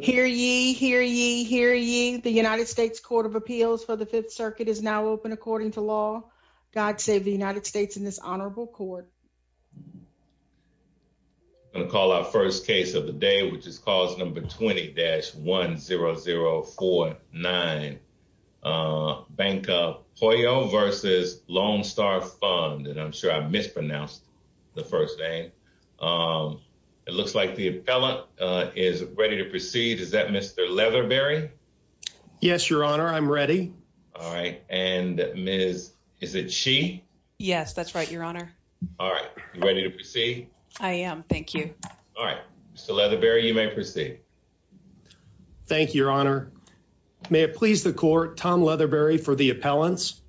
Hear ye, hear ye, hear ye. The United States Court of Appeals for the Fifth Circuit is now open according to law. God save the United States and this honorable court. I'm going to call our first case of the day, which is cause number 20-10049, Banca Pueyo versus Lone Star Fund, and I'm sure I mispronounced the first name. Um, it looks like the appellant is ready to proceed. Is that Mr. Leatherberry? Yes, your honor. I'm ready. All right. And Ms. Is it she? Yes, that's right, your honor. All right. You ready to proceed? I am. Thank you. All right. Mr. Leatherberry, you may proceed. Thank you, your honor. May it please the court, Tom Leatherberry for the appellants.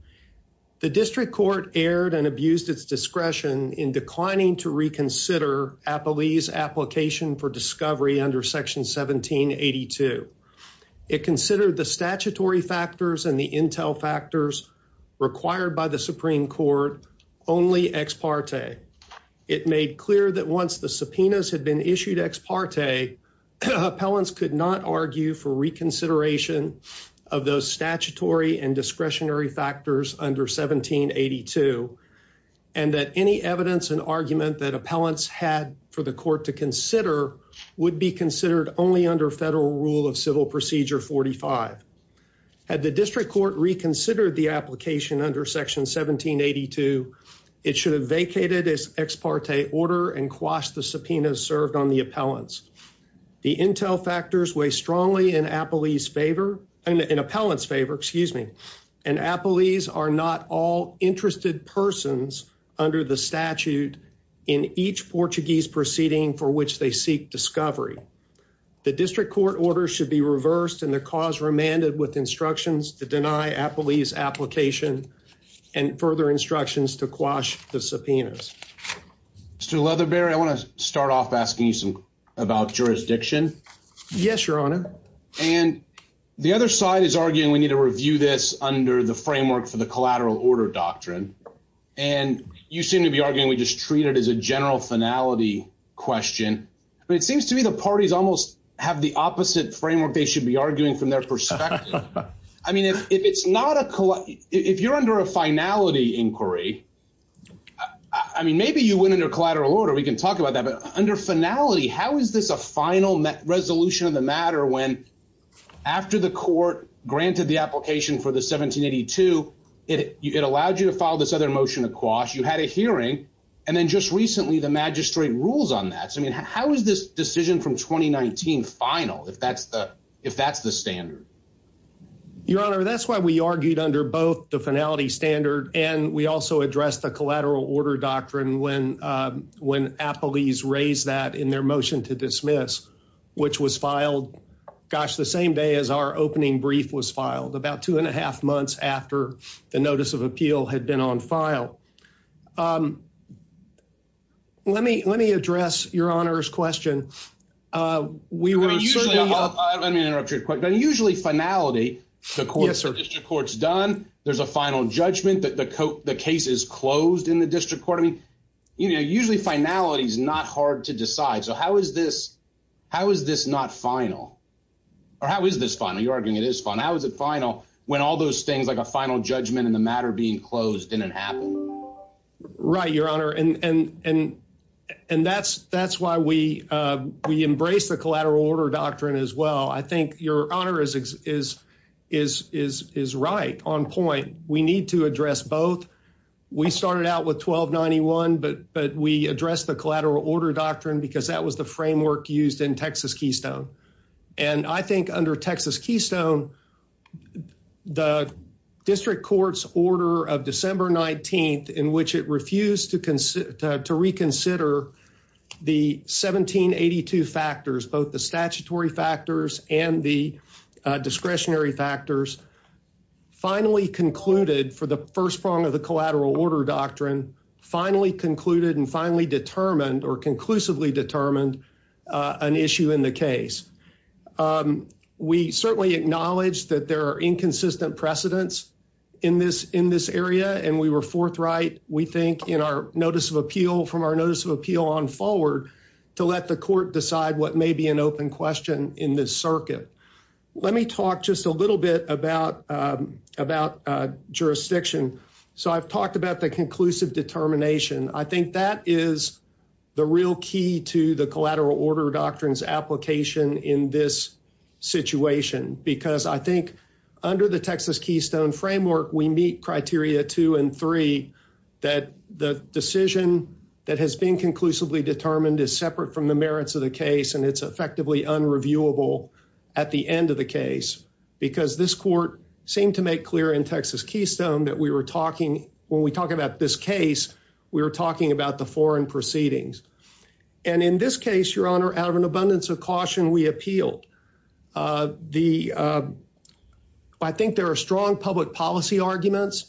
The district court erred and abused its discretion in declining to reconsider Appellee's application for discovery under section 1782. It considered the statutory factors and the intel factors required by the Supreme Court only ex parte. It made clear that once the subpoenas had been issued ex parte, appellants could not argue for reconsideration of those statutory and discretionary factors under 1782 and that any evidence and argument that appellants had for the court to consider would be considered only under federal rule of civil procedure 45. Had the district court reconsidered the application under section 1782, it should have vacated its ex parte order and quashed the subpoenas served on the appellants. The intel factors weigh strongly in appellant's favor and appellees are not all interested persons under the statute in each Portuguese proceeding for which they seek discovery. The district court order should be reversed and the cause remanded with instructions to deny Appellee's application and further instructions to quash the subpoenas. Mr. Leatherberry, I want to start off asking you some about jurisdiction. Yes, your honor. And the other side is arguing we need to review this under the framework for the collateral order doctrine. And you seem to be arguing we just treat it as a general finality question, but it seems to me the parties almost have the opposite framework they should be arguing from their perspective. I mean, if it's not a, if you're under a finality inquiry, uh, I mean, maybe you went into collateral order. We can talk about that, but under finality, how is this a final resolution of the matter? When after the court granted the application for the 1782, it, it allowed you to file this other motion of quash. You had a hearing. And then just recently the magistrate rules on that. So, I mean, how is this decision from 2019 final? If that's the, if that's the standard. Your honor, that's why we argued under both the finality standard. And we also addressed the collateral order doctrine when, um, when Applebee's raised that in their motion to dismiss, which was filed gosh, the same day as our opening brief was filed about two and a half months after the notice of appeal had been on file. Um, let me, let me address your honors question. Uh, we were usually, let me interrupt you, but usually finality, the court court's done, there's a final judgment that the coat, the case is closed in the district court. I mean, you know, usually finality is not hard to decide. So how is this, how is this not final or how is this fun? Are you arguing? It is fun. How is it final? When all those things, like a final judgment in the matter being closed in an app. Right. Your honor. And, and, and, and that's, that's why we, uh, we embrace the collateral order doctrine as well. I think your honor is, is, is, is, is right on point. We need to address both. We started out with 1291, but, but we address the collateral order doctrine because that was the framework used in Texas Keystone. And I think under Texas Keystone, the district court's order of December 19th, in which it refused to consider, uh, to reconsider the 1782 factors, both the statutory factors and the, uh, discretionary factors finally concluded for the first prong of the collateral order doctrine finally concluded and finally determined or conclusively determined, uh, an issue in the case. Um, we certainly acknowledge that there are inconsistent precedents in this, in this area. And we were forthright. We think in our notice of appeal from our notice of appeal on forward to let the court decide what may be an open question in this circuit. Let me talk just a little bit about, um, about, uh, jurisdiction. So I've talked about the conclusive determination. I think that is the real key to the collateral order doctrines application in this situation, because I think under the Texas Keystone framework, we meet criteria two and three that the decision that has been conclusively determined is separate from the merits of the case. And it's effectively unreviewable at the end of the case, because this court seemed to make clear in Texas Keystone that we were talking, when we talk about this case, we were talking about the foreign proceedings. And in this case, your honor, out of an abundance of caution, we appealed, uh, the, uh, I think there are strong public policy arguments,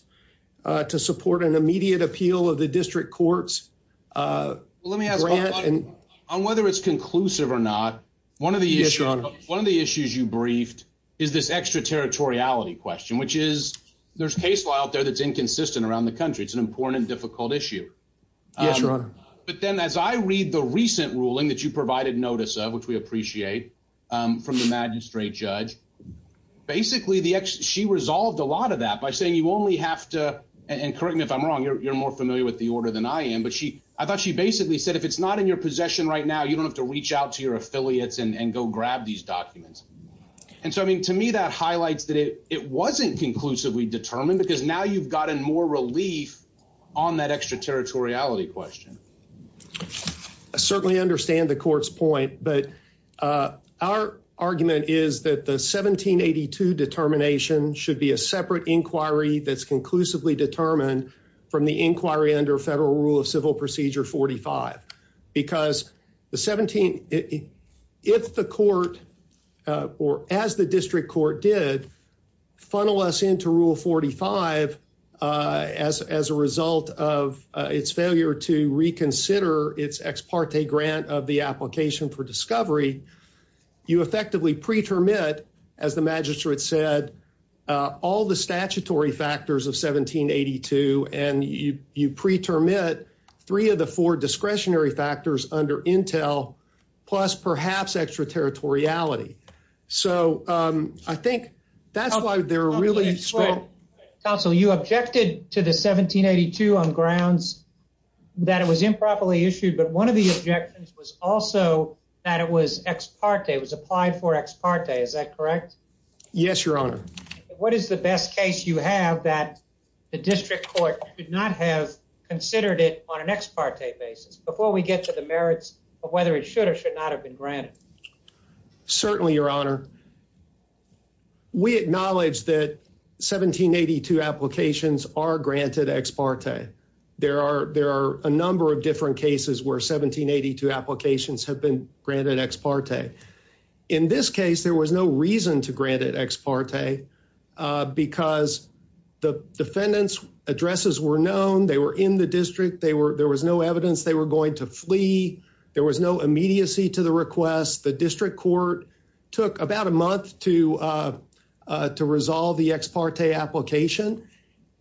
uh, to support an immediate appeal of the district courts. Uh, let me ask on whether it's conclusive or not. One of the issues, one of the issues you briefed is this extra territoriality question, which is there's case law out there that's inconsistent around the country. It's an important, difficult issue. Um, but then as I read the recent ruling that provided notice of, which we appreciate, um, from the magistrate judge, basically the ex, she resolved a lot of that by saying you only have to, and correct me if I'm wrong, you're more familiar with the order than I am. But she, I thought she basically said, if it's not in your possession right now, you don't have to reach out to your affiliates and go grab these documents. And so, I mean, to me, that highlights that it, it wasn't conclusively determined because now you've gotten more relief on that extra territoriality question. I certainly understand the court's point, but, uh, our argument is that the 1782 determination should be a separate inquiry that's conclusively determined from the inquiry under federal rule of civil procedure 45 because the 17, if the court, uh, or as the district court did funnel us into rule 45, uh, as, as a result of its failure to reconsider its ex parte grant of the application for discovery, you effectively preterm it as the magistrate said, uh, all the statutory factors of 1782 and you, you preterm it three of the four discretionary factors under Intel, plus perhaps extra territoriality. So, um, I think that's why they're really strong. Counsel, you objected to the 1782 on grounds that it was improperly issued. But one of the objections was also that it was ex parte was applied for ex parte. Is that correct? Yes, your honor. What is the best case you have that the district court could not have considered it on an ex parte basis before we get to the merits of whether it should or should not have been granted? Certainly, your honor. We acknowledge that 1782 applications are granted ex parte. There are, there are a number of different cases where 1782 applications have been granted ex parte. In this case, there was no reason to grant it ex parte, uh, because the defendant's addresses were known. They were in the district. They were, there was no evidence they were going to flee. There was no immediacy to the request. The district court took about a month to, uh, uh, to resolve the ex parte application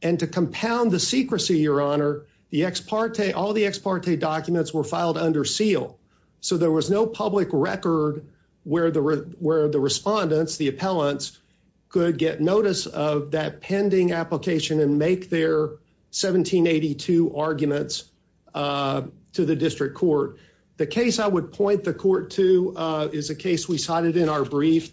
and to compound the secrecy, your honor, the ex parte, all the ex parte documents were filed under seal. So there was no public record where the, where the respondents, the appellants could get notice of that pending application and make their 1782 arguments, uh, to the district court. The case I would point the court to, uh, is a case we cited in our brief.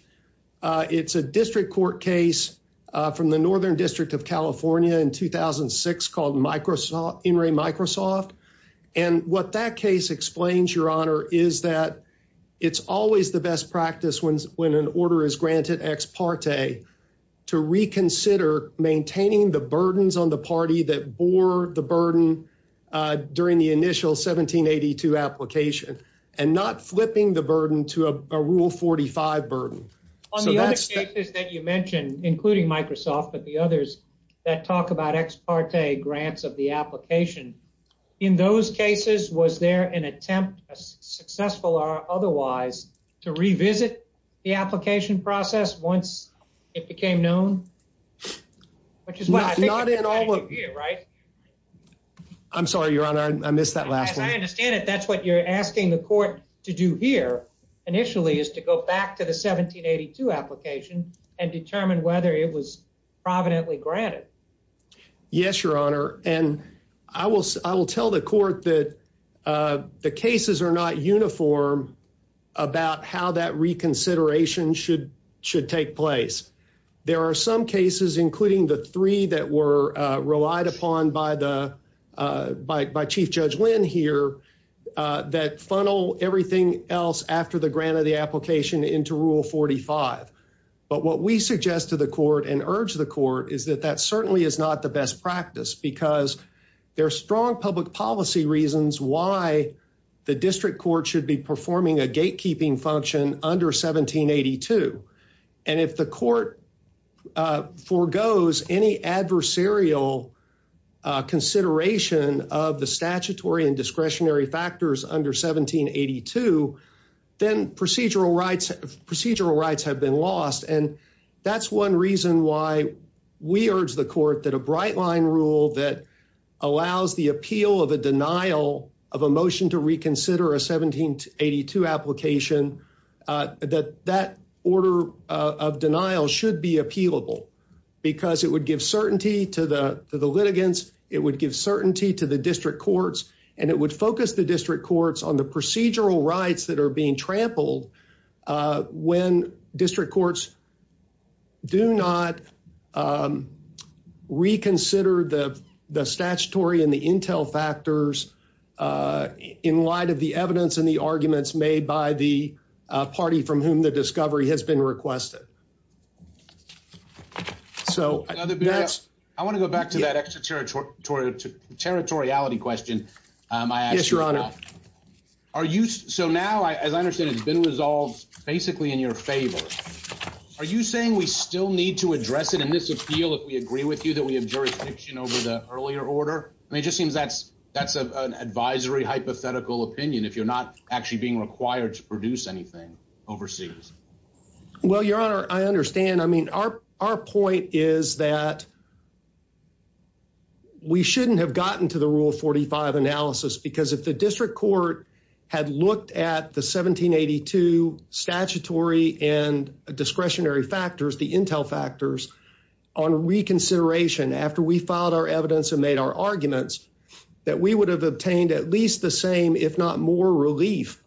Uh, it's a district court case, uh, from the Northern district of California in 2006 called Microsoft in Ray Microsoft. And what that case explains your honor is that it's always the best practice when, when an order is granted ex parte to reconsider maintaining the burdens on the party that bore the burden, uh, during the initial 1782 application and not flipping the burden to a rule 45 burden. On the other cases that you mentioned, including Microsoft, but the others that talk about ex parte grants of the application in those cases, was there an attempt successful or otherwise to revisit the application process once it became known, which is why I'm sorry, your honor, I missed that last one. I understand it. That's what you're asking the court to do here initially is to go back to the 1782 application and determine whether it was providently granted. Yes, your honor. And I will, I will tell the court that, uh, the cases are not uniform about how that reconsideration should, should take place. There are some cases, including the three that were relied upon by the, uh, by, by chief judge Lynn here, uh, that funnel everything else after the grant of the application into rule 45. But what we suggest to the court and urge the court is that that certainly is not the best practice because there are strong public policy reasons why the district court should be performing a gatekeeping function under 1782. And if the court, uh, foregoes any adversarial, uh, consideration of the statutory and discretionary factors under 1782, then procedural rights, procedural rights have been lost. And that's one reason why we urge the court that a bright line rule that allows the appeal of a denial of a motion to reconsider a 1782 application, that that order of denial should be appealable because it would give certainty to the, to the litigants. It would give certainty to the district courts and it would focus the district courts on the procedural rights that are being trampled, uh, when district courts do not, um, reconsider the, the statutory and the intel factors, uh, in light of the evidence and the arguments made by the, uh, party from whom the discovery has been requested. So that's, I want to go back to that extraterritorial, territoriality question. Um, are you, so now, as I understand, it's been resolved basically in your favor, are you saying we still need to address it in this appeal? If we agree with you that we have jurisdiction over the earlier order, I mean, it just seems that's, that's an advisory hypothetical opinion. If you're not actually being required to produce anything overseas. Well, your honor, I understand. I mean, our, our point is that we shouldn't have gotten to the rule 45 analysis because if the district court had looked at the 1782 statutory and discretionary factors, the intel factors on reconsideration, after we filed our evidence and made our arguments that we would have obtained at least the same, if not more relief,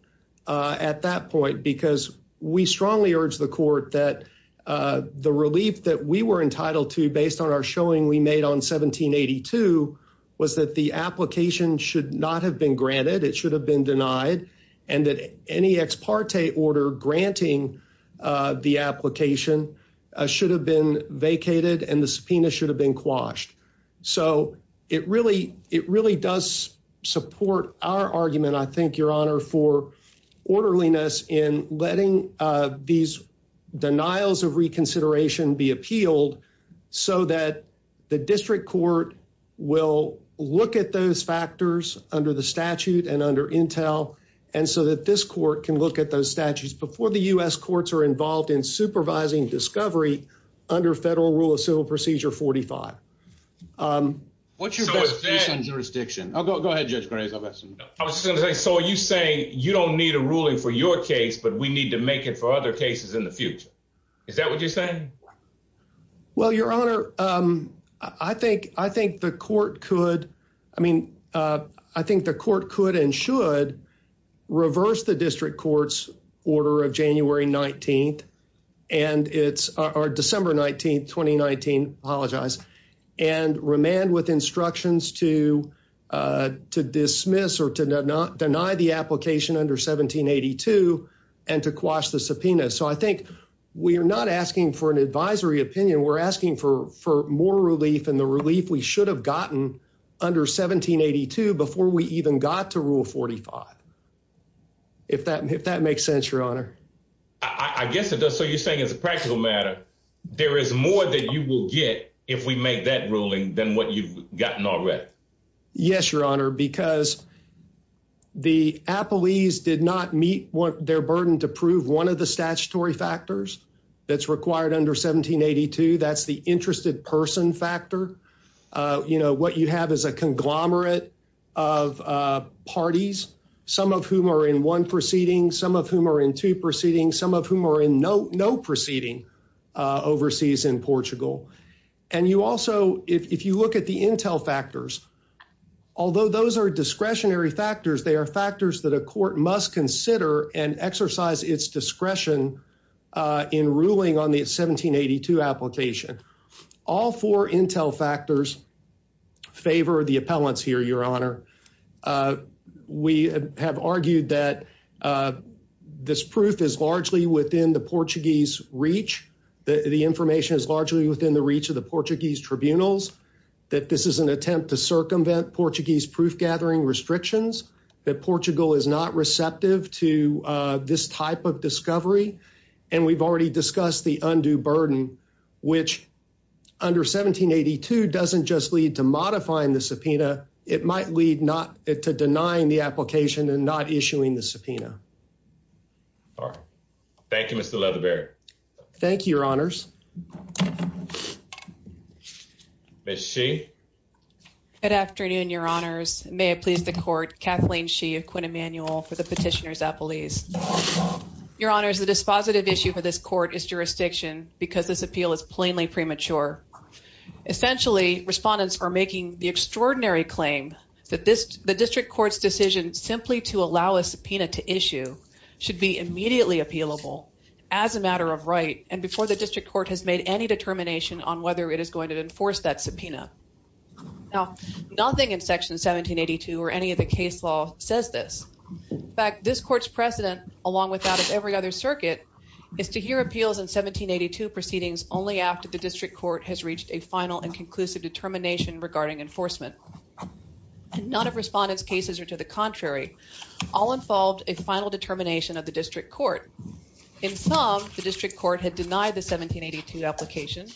uh, at that point, because we strongly urge the court that, uh, the relief that we were entitled to based on our showing we made on 1782 was that the application should not have been granted. It should have been denied. And that any ex parte order granting, uh, the application, uh, should have been vacated and the subpoena should have been quashed. So it really, it really does support our argument. I think your honor for letting, uh, these denials of reconsideration be appealed so that the district court will look at those factors under the statute and under intel. And so that this court can look at those statutes before the U S courts are involved in supervising discovery under federal rule of civil procedure, 45. Um, what's your best jurisdiction? I'll go, go ahead. Judge Graves. I've asked him. I was just going to say, so are you saying you don't need a ruling for your case, but we need to make it for other cases in the future. Is that what you're saying? Well, your honor, um, I think, I think the court could, I mean, uh, I think the court could and should reverse the district courts order of January 19th and it's our December 19th, 2019, apologize and remand with instructions to, uh, to dismiss or to not deny the application under 1782 and to quash the subpoena. So I think we are not asking for an advisory opinion. We're asking for, for more relief and the relief we should have gotten under 1782 before we even got to rule 45. If that, if that makes sense, your honor, I guess it does. So you're saying as a practical matter, there is more that you will get if we make that ruling than what you've gotten already. Yes, your honor, because the Apple ease did not meet their burden to prove one of the statutory factors that's required under 1782. That's the interested person factor. Uh, you know, what you have is a conglomerate of, uh, parties, some of whom are in one proceeding, some of whom are in two proceedings, some of whom are in no, no proceeding, uh, overseas in Portugal. And you also, if you look at the Intel factors, although those are discretionary factors, they are factors that a court must consider and exercise its discretion, uh, in ruling on the 1782 application, all four Intel factors favor the appellants here, your honor. Uh, we have argued that, uh, this proof is largely within the Portuguese reach that the information is largely within the reach of the Portuguese tribunals, that this is an attempt to circumvent Portuguese proof gathering restrictions, that Portugal is not receptive to, uh, this type of discovery. And we've already discussed the undue burden, which under 1782, doesn't just lead to modifying the subpoena. It might lead not to denying the application and not issuing the subpoena. All right. Thank you, Mr. Leatherberry. Thank you, your honors. Ms. Shee. Good afternoon, your honors. May it please the court, Kathleen Shee of Quinn Emanuel for the petitioner's appellees. Your honors, the dispositive issue for this court is jurisdiction because this appeal is plainly premature. Essentially respondents are making the extraordinary claim that this, the district court's decision simply to allow a subpoena to issue should be immediately appealable as a matter of right. And before the district court has made any determination on whether it is going to enforce that subpoena. Now, nothing in section 1782 or any of the case law says this. In fact, this court's precedent along with that of every other proceedings only after the district court has reached a final and conclusive determination regarding enforcement. None of respondents' cases are to the contrary. All involved a final determination of the district court. In some, the district court had denied the 1782 application.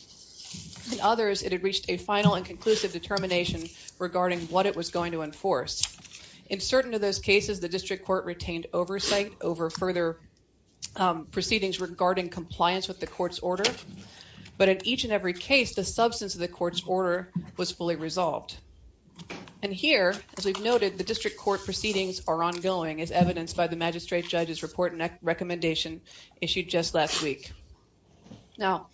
In others, it had reached a final and conclusive determination regarding what it was going to enforce. In certain of those cases, the district court retained oversight over further proceedings regarding compliance with the court's order. But in each and every case, the substance of the court's order was fully resolved. And here, as we've noted, the district court proceedings are ongoing as evidenced by the magistrate judge's report and recommendation issued just last week. Now,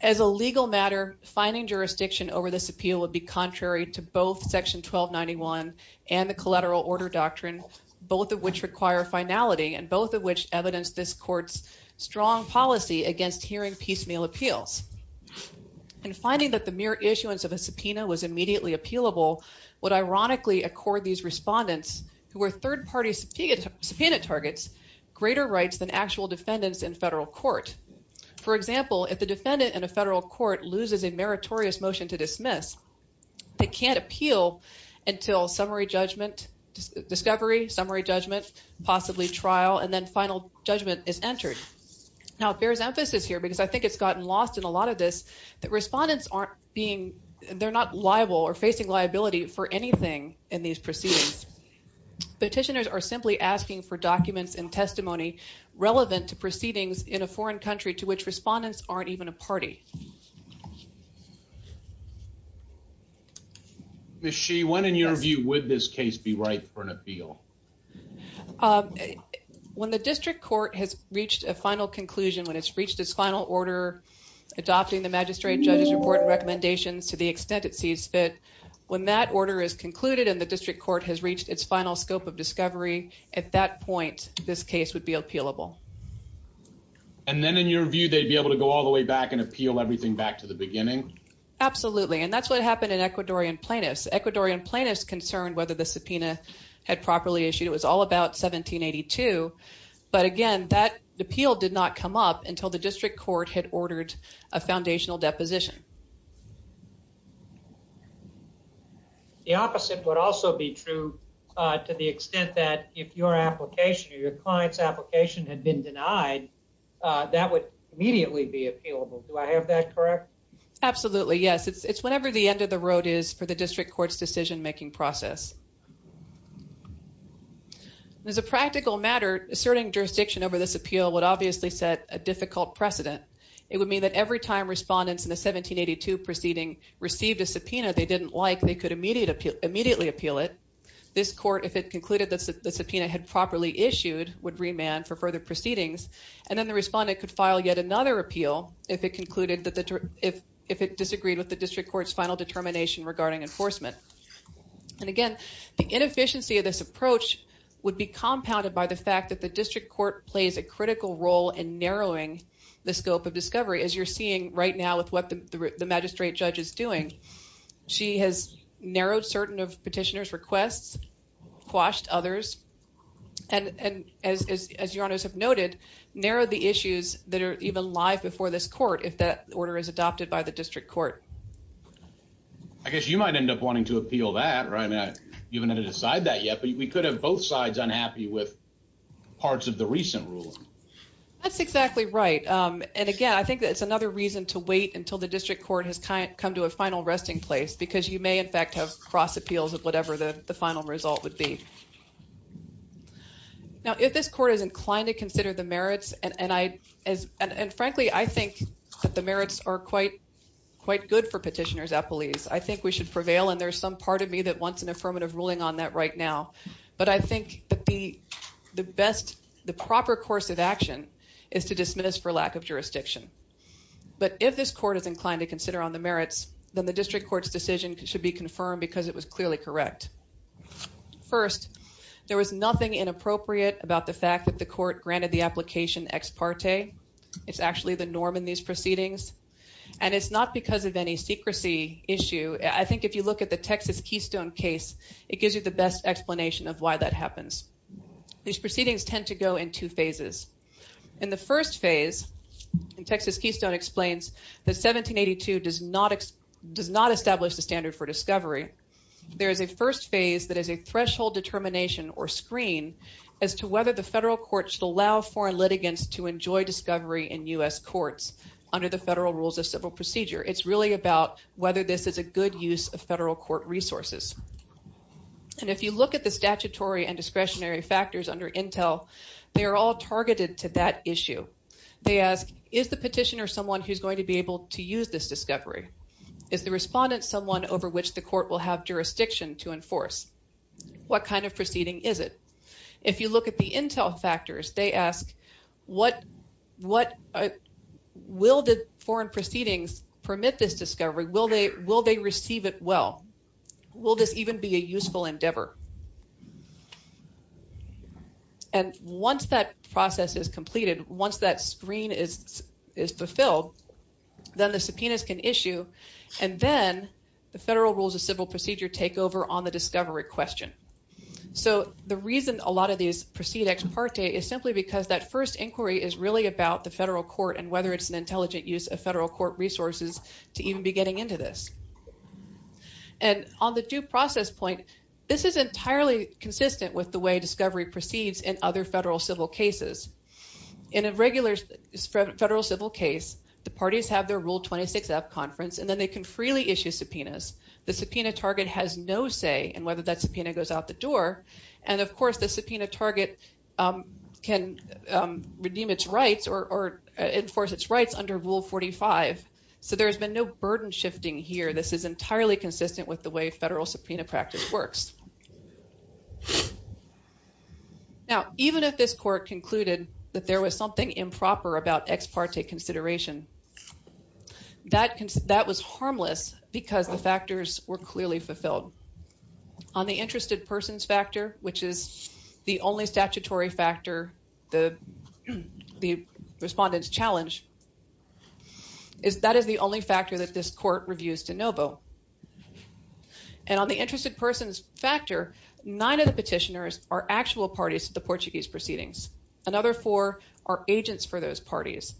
as a legal matter, finding jurisdiction over this appeal would be contrary to both section 1291 and the collateral order doctrine, both of which require finality and both of which evidence this policy against hearing piecemeal appeals. And finding that the mere issuance of a subpoena was immediately appealable would ironically accord these respondents, who were third-party subpoena targets, greater rights than actual defendants in federal court. For example, if the defendant in a federal court loses a meritorious motion to dismiss, they can't appeal until summary judgment, discovery, summary judgment, possibly trial, and then final judgment is entered. Now, it bears emphasis here, because I think it's gotten lost in a lot of this, that respondents aren't being, they're not liable or facing liability for anything in these proceedings. Petitioners are simply asking for documents and testimony relevant to proceedings in a foreign country to which respondents aren't even a party. Ms. Shee, when, in your view, would this case be right for an appeal? When the district court has reached a final conclusion, when it's reached its final order, adopting the magistrate judge's important recommendations to the extent it sees fit, when that order is concluded and the district court has reached its final scope of discovery, at that point, this case would be appealable. And then, in your view, they'd be able to go all the way back and appeal everything back to the beginning? Absolutely. And that's what happened in Ecuadorian plaintiffs. Ecuadorian plaintiffs concerned whether the subpoena had properly issued. It was all about 1782. But again, that appeal did not come up until the district court had ordered a foundational deposition. The opposite would also be true to the extent that if your application or your client's application had been denied, that would immediately be appealable. Do I have that correct? Absolutely, yes. It's whenever the end of the road is for the district court's decision-making process. As a practical matter, asserting jurisdiction over this appeal would obviously set a difficult precedent. It would mean that every time respondents in the 1782 proceeding received a subpoena they didn't like, they could immediately appeal it. This court, if it concluded that the subpoena had properly issued, would remand for further proceedings. And then the respondent could file yet another appeal if it disagreed with the district court's final determination regarding enforcement. And again, the inefficiency of this approach would be compounded by the fact that the district court plays a critical role in narrowing the scope of discovery, as you're seeing right now with what the magistrate judge is doing. She has narrowed certain of petitioners' requests, quashed others, and as your honors have noted, narrowed the issues that are even live before this court if that order is passed. I guess you might end up wanting to appeal that, right? I mean, you haven't had to decide that yet, but we could have both sides unhappy with parts of the recent ruling. That's exactly right. And again, I think that it's another reason to wait until the district court has come to a final resting place, because you may in fact have cross appeals of whatever the final result would be. Now, if this court is inclined to consider the merits, and frankly, I think that the merits are quite good for petitioners' appellees, I think we should prevail, and there's some part of me that wants an affirmative ruling on that right now. But I think that the best, the proper course of action is to dismiss for lack of jurisdiction. But if this court is inclined to consider on the merits, then the district court's decision should be confirmed because it was clearly correct. First, there was nothing inappropriate about the fact that the court was acquitted of these proceedings, and it's not because of any secrecy issue. I think if you look at the Texas Keystone case, it gives you the best explanation of why that happens. These proceedings tend to go in two phases. In the first phase, Texas Keystone explains that 1782 does not establish the standard for discovery. There is a first phase that is a threshold determination or screen as to whether the federal court should allow foreign litigants to enjoy discovery in U.S. courts under the federal rules of civil procedure. It's really about whether this is a good use of federal court resources. And if you look at the statutory and discretionary factors under Intel, they are all targeted to that issue. They ask, is the petitioner someone who's going to be able to use this discovery? Is the respondent someone over which the court will have jurisdiction to enforce? What kind of proceeding is it? If you look at the Intel factors, they ask, what will the foreign proceedings permit this discovery? Will they receive it well? Will this even be a useful endeavor? And once that process is completed, once that screen is fulfilled, then the subpoenas can issue, and then the federal rules of civil procedure take over on the discovery question. So the reason a lot of these proceed ex parte is simply because that first inquiry is really about the federal court and whether it's an intelligent use of federal court resources to even be getting into this. And on the due process point, this is entirely consistent with the way discovery proceeds in other federal civil cases. In a regular federal civil case, the parties have their Rule 26-F conference, and then they can freely issue subpoenas. The subpoena target has no say in whether that subpoena goes out the door. And of course, the subpoena target can redeem its rights or enforce its rights under Rule 45. So there's been no burden shifting here. This is entirely consistent with the way federal subpoena practice works. Now, even if this court concluded that there was something improper about ex parte consideration, that was harmless because the factors were clearly fulfilled. On the interested persons factor, which is the only statutory factor the respondents challenge, that is the only factor that this court reviews de novo. And on the interested persons factor, nine of the petitioners are actual parties to the Portuguese proceedings. Another four are agents for those parties.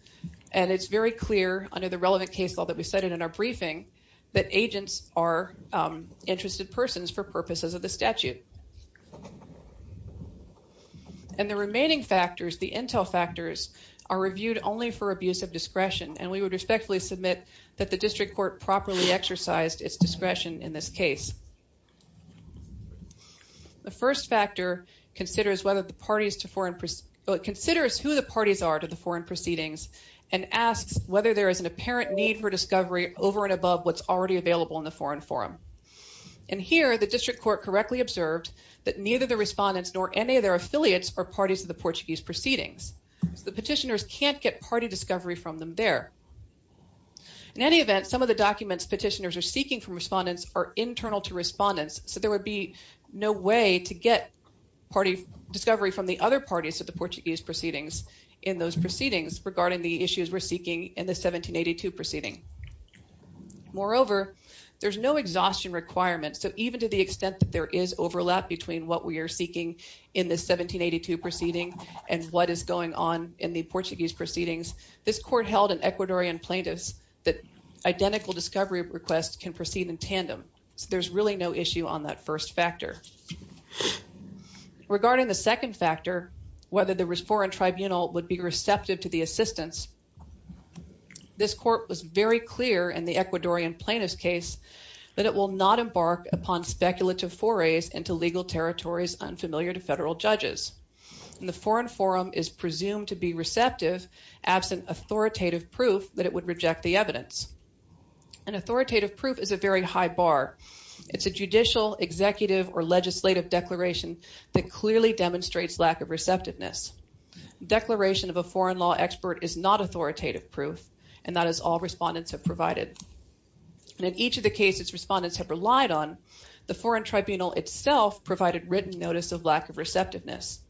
And it's very clear under the relevant case law that we cited in our briefing that agents are interested persons for purposes of the statute. And the remaining factors, the intel factors, are reviewed only for abuse of discretion. And we would respectfully submit that the district court properly exercised its discretion in this foreign proceedings and asks whether there is an apparent need for discovery over and above what's already available in the foreign forum. And here, the district court correctly observed that neither the respondents nor any of their affiliates are parties to the Portuguese proceedings. So the petitioners can't get party discovery from them there. In any event, some of the documents petitioners are seeking from respondents are internal to respondents. So there would be no way to get discovery from the other parties to the Portuguese in those proceedings regarding the issues we're seeking in the 1782 proceeding. Moreover, there's no exhaustion requirement. So even to the extent that there is overlap between what we are seeking in the 1782 proceeding and what is going on in the Portuguese proceedings, this court held in Ecuadorian plaintiffs that identical discovery requests can proceed in tandem. So there's really no issue on that first factor. Regarding the second factor, whether the foreign tribunal would be receptive to the assistance, this court was very clear in the Ecuadorian plaintiffs case that it will not embark upon speculative forays into legal territories unfamiliar to federal judges. And the foreign forum is presumed to be receptive absent authoritative proof that it would reject the evidence. And authoritative proof is a very high bar. It's a judicial, executive, or legislative declaration that clearly demonstrates lack of receptiveness. Declaration of a foreign law expert is not authoritative proof, and that is all respondents have provided. And in each of the cases respondents have relied on, the foreign tribunal itself provided written notice of lack of receptiveness.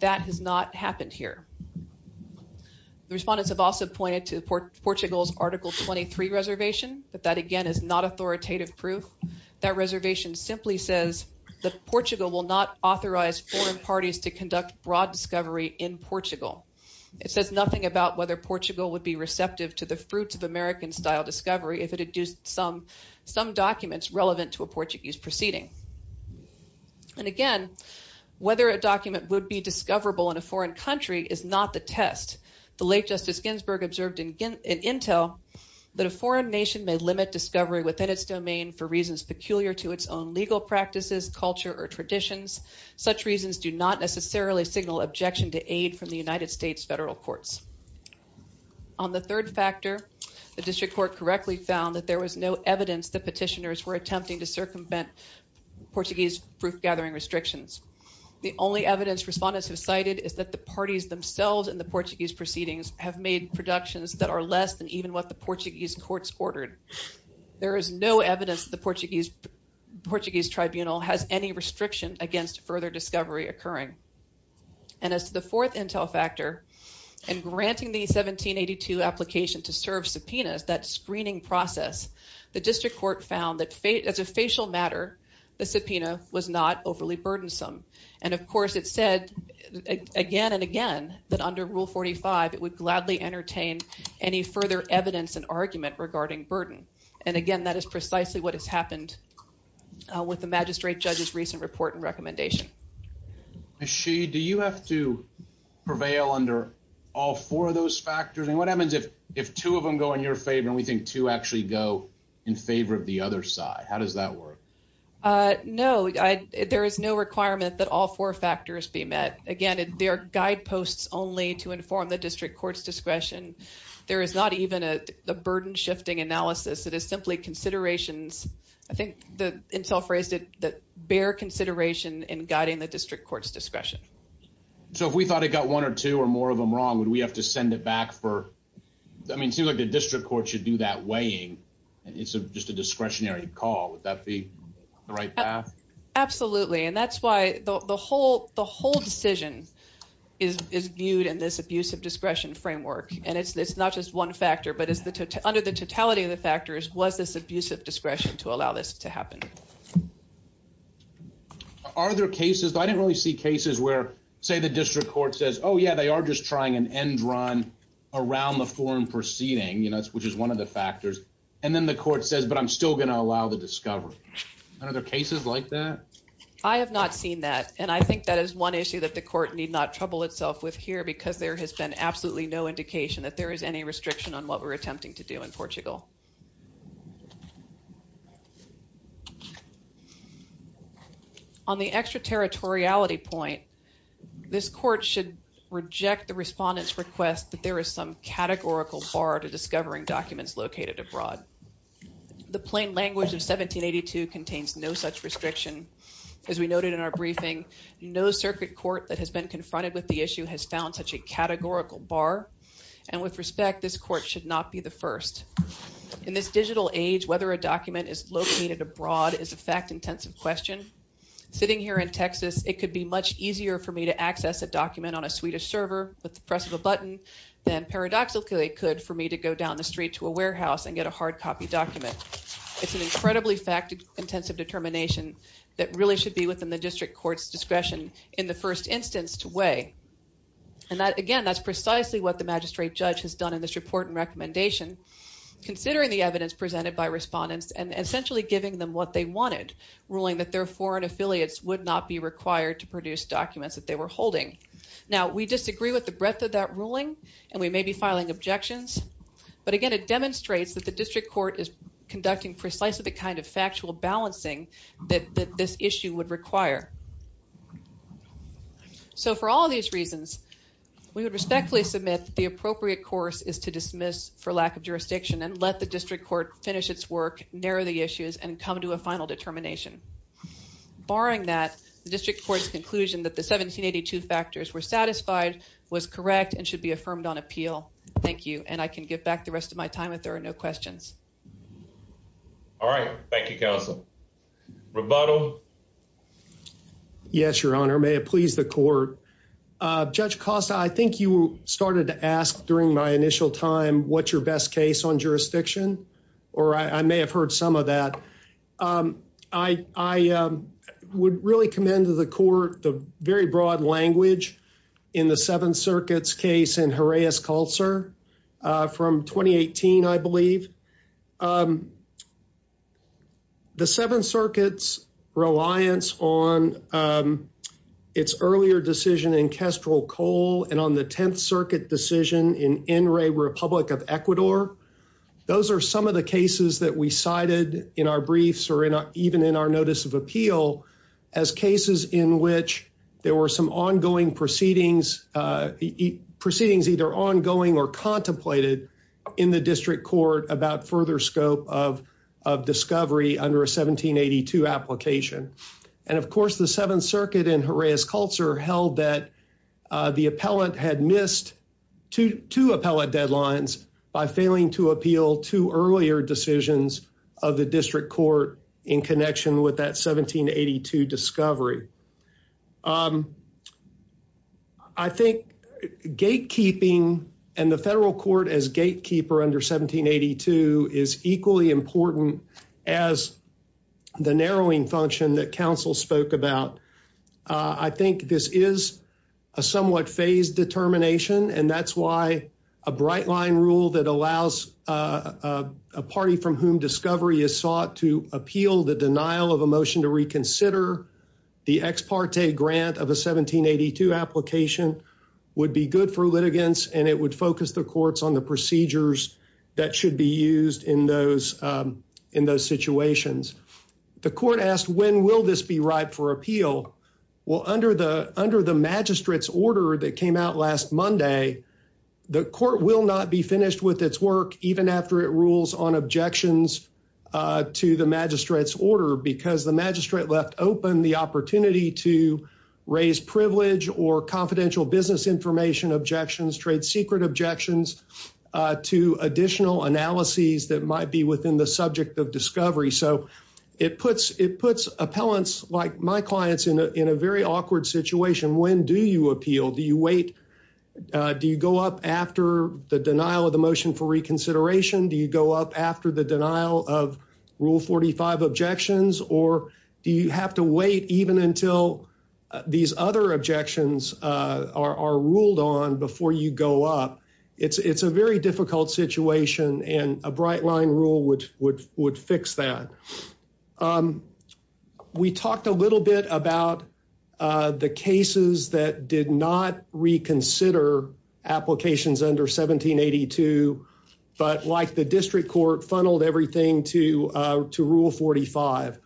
That has not happened here. The respondents have also pointed to Portugal's Article 23 reservation, but that again is not authoritative proof. That reservation simply says that Portugal will not authorize foreign parties to conduct broad discovery in Portugal. It says nothing about whether Portugal would be receptive to the fruits of American-style discovery if it had used some documents relevant to a Portuguese proceeding. And again, whether a document would be discoverable in a foreign country is not the test. The late Justice Ginsburg observed in Intel that a foreign nation may limit discovery within its domain for reasons peculiar to its own legal practices, culture, or traditions. Such reasons do not necessarily signal objection to aid from the United States federal courts. On the third factor, the district court correctly found that there was no evidence that petitioners were attempting to circumvent Portuguese proof gathering restrictions. The only evidence respondents have cited is that the parties themselves and the Portuguese proceedings have made productions that are less than even what Portuguese courts ordered. There is no evidence the Portuguese tribunal has any restriction against further discovery occurring. And as the fourth Intel factor, in granting the 1782 application to serve subpoenas, that screening process, the district court found that as a facial matter, the subpoena was not overly burdensome. And of course it said again and again that under Rule 45 it would gladly entertain any further evidence and argument regarding burden. And again, that is precisely what has happened with the magistrate judge's recent report and recommendation. Ms. Sheehy, do you have to prevail under all four of those factors? And what happens if two of them go in your favor and we think two actually go in favor of the other side? How does that work? No, there is no requirement that all four factors be met. Again, there are guideposts only to inform the district court's discretion. There is not even a burden shifting analysis. It is simply considerations. I think the Intel phrased it that bear consideration in guiding the district court's discretion. So if we thought it got one or two or more of them wrong, would we have to send it back for, I mean, it seems like the district court should do that weighing. It's just a discretionary call. Would that be the right path? Absolutely. And that's why the whole decision is viewed in this abuse of discretion framework. And it's not just one factor, but under the totality of the factors was this abuse of discretion to allow this to happen. Are there cases, I didn't really see cases where say the district court says, oh yeah, they are just trying an end run around the forum proceeding, which is one of the factors. And then the court says, but I'm still going to allow the discovery. Are there cases like that? I have not seen that. And I think that is one issue that the court need not trouble itself with here because there has been absolutely no indication that there is any restriction on what we're attempting to do in Portugal. On the extraterritoriality point, this court should reject the respondent's request that there is some categorical bar to discovering documents located abroad. The plain language of 1782 contains no such restriction. As we noted in our briefing, no circuit court that has been confronted with the issue has found such a categorical bar. And with respect, this court should not be the first. In this digital age, whether a document is located abroad is a fact intensive question. Sitting here in Texas, it could be much easier for me to access a document on a Swedish server with the press of a button than paradoxically could for me to go down the street to a warehouse and get a hard copy document. It's an incredibly fact intensive determination that really should be within the district court's discretion in the first instance to weigh. And again, that's precisely what the magistrate judge has done in this report and recommendation, considering the evidence presented by respondents and essentially giving them what they wanted, ruling that their foreign affiliates would not be required to produce documents that they were holding. Now, we disagree with the breadth of that ruling and we may be filing objections. But again, it demonstrates that the district court is conducting precisely the kind of factual balancing that this issue would require. So for all these reasons, we would respectfully submit the appropriate course is to dismiss for lack of jurisdiction and let the district court finish its work, narrow the issues, and come to a final determination. Barring that, the district court's conclusion that the 1782 factors were satisfied, was correct, and should be affirmed on appeal. Thank you. And I can give back the rest of my time if there are no questions. All right. Thank you, counsel. Rebuttal. Yes, Your Honor. May it please the court. Judge Costa, I think you started to ask during my initial time, what's your best case on jurisdiction? Or I may have heard some of that. I would really commend to the court the very broad language in the Seventh Circuit's case in Jerez Calcer from 2018, I believe. The Seventh Circuit's reliance on its earlier decision in Kestrel Cole and on the Tenth Circuit decision in Enri, Republic of Ecuador. Those are some of the cases that we cited in our briefs, or even in our notice of appeal, as cases in which there were some ongoing proceedings, proceedings either ongoing or contemplated in the district court about further scope of discovery under a 1782 application. And of course, the Seventh Circuit in Jerez Calcer held that the appellant had missed two appellate deadlines by failing to appeal two earlier decisions of the district court in connection with that 1782 discovery. I think gatekeeping and the federal court as gatekeeper under 1782 is equally important as the narrowing function that counsel spoke about. I think this is a somewhat phased determination, and that's why a bright line rule that allows a party from whom discovery is sought to appeal the denial of a motion to reconsider the ex parte grant of a 1782 application would be good for litigants, and it would focus the courts on the procedures that should be used in those situations. The court asked, when will this be ripe for appeal? Well, under the magistrate's order that came out last Monday, the court will not be finished with its work even after it rules on objections to the magistrate's order because the magistrate left open the opportunity to raise privilege or confidential business information, objections, trade secret objections to additional analyses that might be within the subject of discovery. So it puts appellants like my clients in a very awkward situation. When do you appeal? Do you wait? Do you go up after the denial of the motion for reconsideration? Do you go up after the denial of rule 45 objections, or do you have to wait even until these other objections are ruled on before you go up? It's a very difficult situation, and a bright line rule would fix that. We talked a little bit about the cases that did not reconsider applications under 1782, but like the district court, funneled everything to rule 45.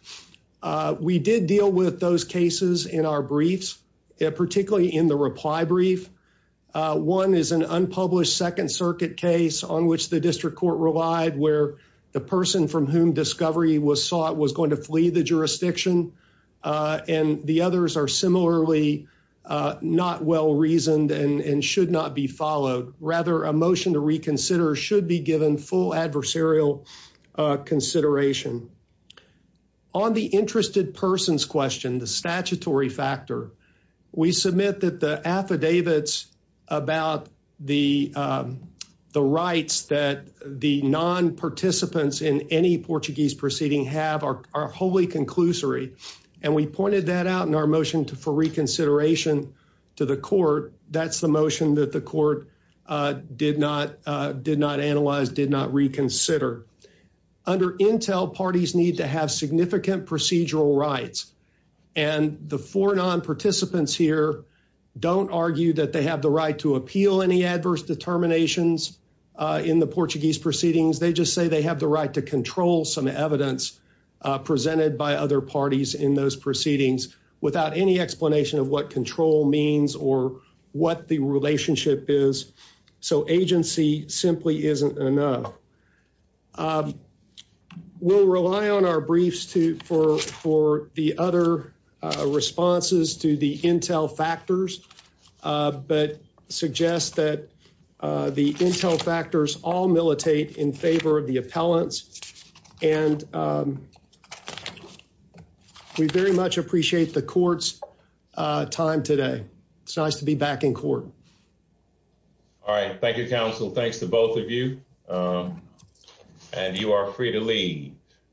We did deal with those cases in our briefs, particularly in the reply brief. One is an unpublished Second Circuit case on which the district court relied, where the person from whom discovery was sought was going to flee the jurisdiction, and the others are similarly not well-reasoned and should not be followed. Rather, a motion to reconsider should be given full adversarial consideration. On the interested persons question, the statutory factor, we submit that the affidavits about the rights that the non-participants in any Portuguese proceeding have are wholly conclusory, and we pointed that out in our motion for reconsideration to the court. That's the motion that the court did not analyze, did not reconsider. Under Intel, parties need to have significant procedural rights, and the four non-participants here don't argue that they have the right to appeal any adverse determinations in the Portuguese proceedings. They just say they have the right to control some evidence presented by other parties in those proceedings without any explanation of what control means or what the relationship is, so agency simply isn't enough. We'll rely on our briefs for the other responses to the Intel factors, but suggest that the Intel factors all militate in favor of the appellants, and we very much appreciate the court's time today. It's nice to be back in court. All right. Thank you, counsel. Thanks to both of you, and you are free to leave.